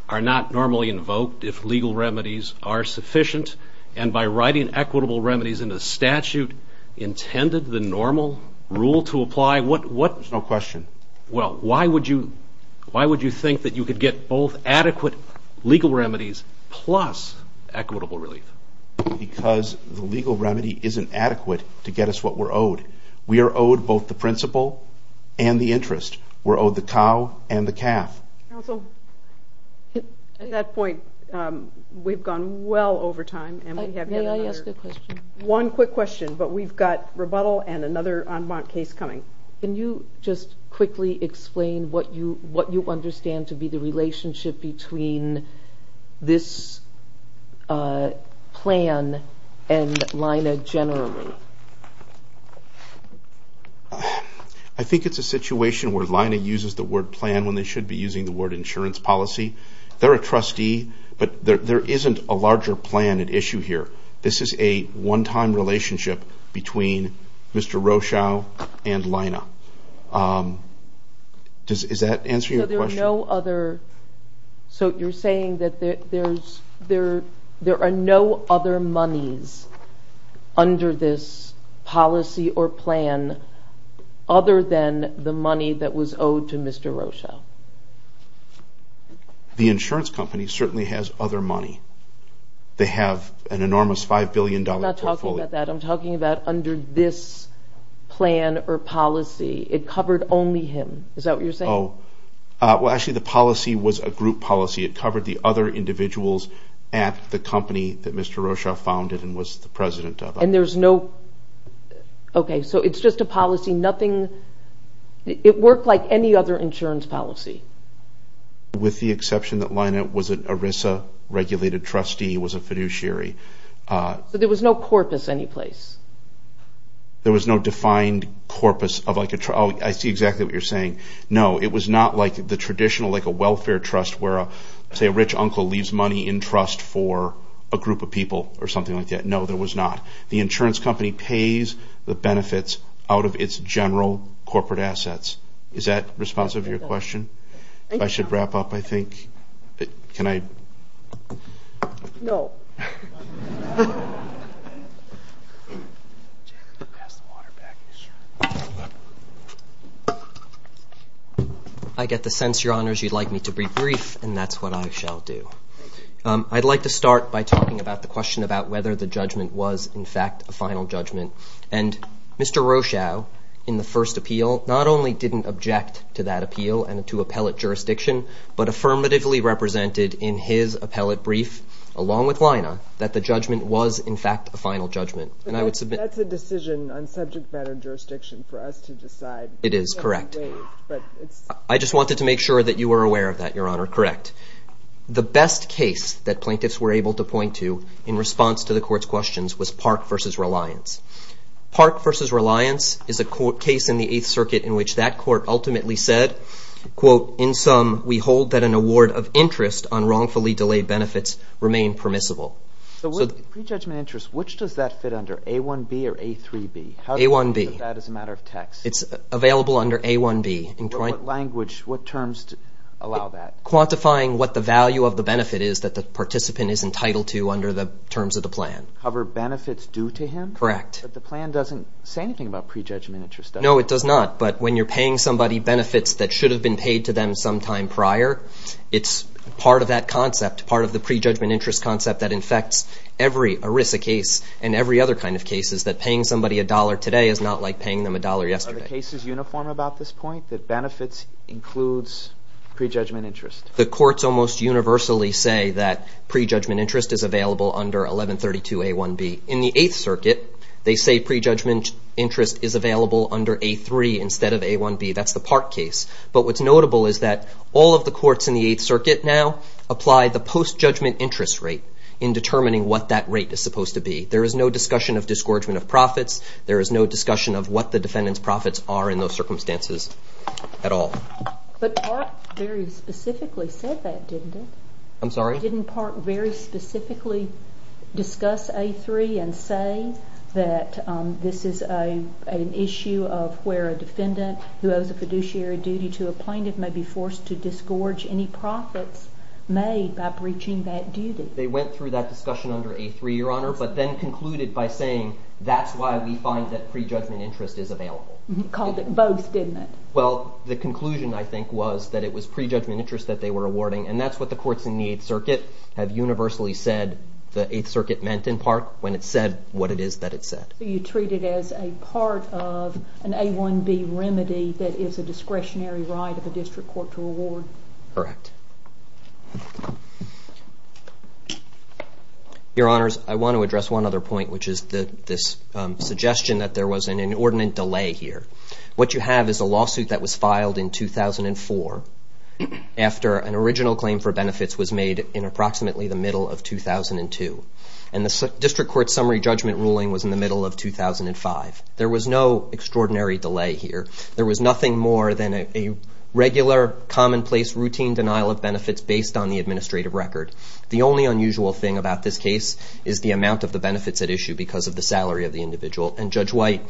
are not normally invoked if legal remedies are sufficient, and by writing equitable remedies into statute, intended the normal rule to apply? There's no question. Well, why would you think that you could get both adequate legal remedies plus equitable relief? Because the legal remedy isn't adequate to get us what we're owed. We are owed both the principle and the interest. We're owed the cow and the calf. Counsel, at that point, we've gone well over time. May I ask a question? One quick question, but we've got rebuttal and another en banc case coming. Can you just quickly explain what you understand to be the relationship between this plan and LINA generally? I think it's a situation where LINA uses the word plan when they should be using the word insurance policy. They're a trustee, but there isn't a larger plan at issue here. This is a one-time relationship between Mr. Rochau and LINA. Is that answering your question? So you're saying that there are no other monies under this policy or plan other than the money that was owed to Mr. Rochau? The insurance company certainly has other money. They have an enormous $5 billion portfolio. I'm not talking about that. I'm talking about under this plan or policy. It covered only him. Is that what you're saying? Well, actually, the policy was a group policy. It covered the other individuals at the company that Mr. Rochau founded and was the president of. Okay, so it's just a policy. It worked like any other insurance policy? With the exception that LINA was an ERISA-regulated trustee, was a fiduciary. So there was no corpus anyplace? There was no defined corpus. Oh, I see exactly what you're saying. No, it was not like the traditional, like a welfare trust where, say, a rich uncle leaves money in trust for a group of people or something like that. No, there was not. The insurance company pays the benefits out of its general corporate assets. Is that responsive to your question? I should wrap up, I think. Can I? No. I get the sense, Your Honors, you'd like me to be brief, and that's what I shall do. I'd like to start by talking about the question about whether the judgment was, in fact, a final judgment. And Mr. Rochau, in the first appeal, not only didn't object to that appeal and to appellate jurisdiction, but affirmatively represented in his appellate brief, along with LINA, that the judgment was, in fact, a final judgment. That's a decision on subject matter jurisdiction for us to decide. It is, correct. I just wanted to make sure that you were aware of that, Your Honor. Correct. The best case that plaintiffs were able to point to in response to the court's questions was Park v. Reliance. Park v. Reliance is a case in the Eighth Circuit in which that court ultimately said, in sum, we hold that an award of interest on wrongfully delayed benefits remain permissible. Pre-judgment interest, which does that fit under? A1B or A3B? A1B. That is a matter of text. It's available under A1B. What language, what terms allow that? Quantifying what the value of the benefit is that the participant is entitled to under the terms of the plan. Cover benefits due to him? Correct. But the plan doesn't say anything about pre-judgment interest, does it? No, it does not. But when you're paying somebody benefits that should have been paid to them sometime prior, it's part of that concept, part of the pre-judgment interest concept that infects every ERISA case and every other kind of cases that paying somebody a dollar today is not like paying them a dollar yesterday. Are the cases uniform about this point, that benefits includes pre-judgment interest? The courts almost universally say that pre-judgment interest is available under 1132 A1B. In the Eighth Circuit, they say pre-judgment interest is available under A3 instead of A1B. That's the Park case. But what's notable is that all of the courts in the Eighth Circuit now apply the post-judgment interest rate in determining what that rate is supposed to be. There is no discussion of disgorgement of profits. There is no discussion of what the defendant's profits are in those circumstances at all. But Park very specifically said that, didn't he? I'm sorry? Didn't Park very specifically discuss A3 and say that this is an issue of where a defendant who owes a fiduciary duty to a plaintiff may be forced to disgorge any profits made by breaching that duty? They went through that discussion under A3, Your Honor, but then concluded by saying that's why we find that pre-judgment interest is available. Called it both, didn't it? Well, the conclusion, I think, was that it was pre-judgment interest that they were awarding, and that's what the courts in the Eighth Circuit have universally said that the Eighth Circuit meant in Park when it said what it is that it said. So you treat it as a part of an A1B remedy that is a discretionary right of a district court to award? Correct. Your Honors, I want to address one other point, which is this suggestion that there was an inordinate delay here. What you have is a lawsuit that was filed in 2004 after an original claim for benefits was made in approximately the middle of 2002, and the district court summary judgment ruling was in the middle of 2005. There was no extraordinary delay here. There was nothing more than a regular, commonplace, routine denial of benefits based on the administrative record. The only unusual thing about this case is the amount of the benefits at issue because of the salary of the individual, and Judge White,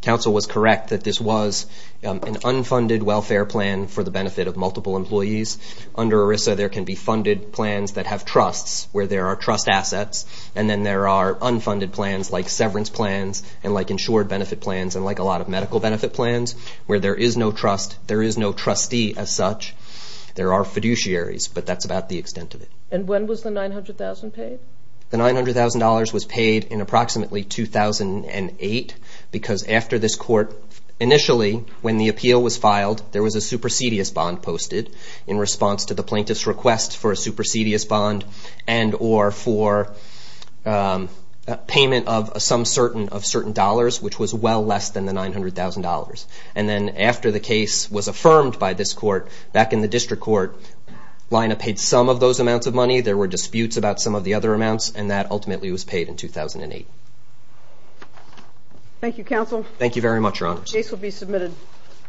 counsel, was correct that this was an unfunded welfare plan for the benefit of multiple employees. Under ERISA, there can be funded plans that have trusts where there are trust assets, and then there are unfunded plans like severance plans and like insured benefit plans and like a lot of medical benefit plans where there is no trust. There is no trustee as such. There are fiduciaries, but that's about the extent of it. And when was the $900,000 paid? The $900,000 was paid in approximately 2008 because after this court initially, when the appeal was filed, there was a supersedious bond posted in response to the plaintiff's request for a supersedious bond and or for payment of some certain dollars, which was well less than the $900,000. And then after the case was affirmed by this court, back in the district court, Lina paid some of those amounts of money. There were disputes about some of the other amounts, and that ultimately was paid in 2008. Thank you, counsel. Thank you very much, Your Honor. The case will be submitted.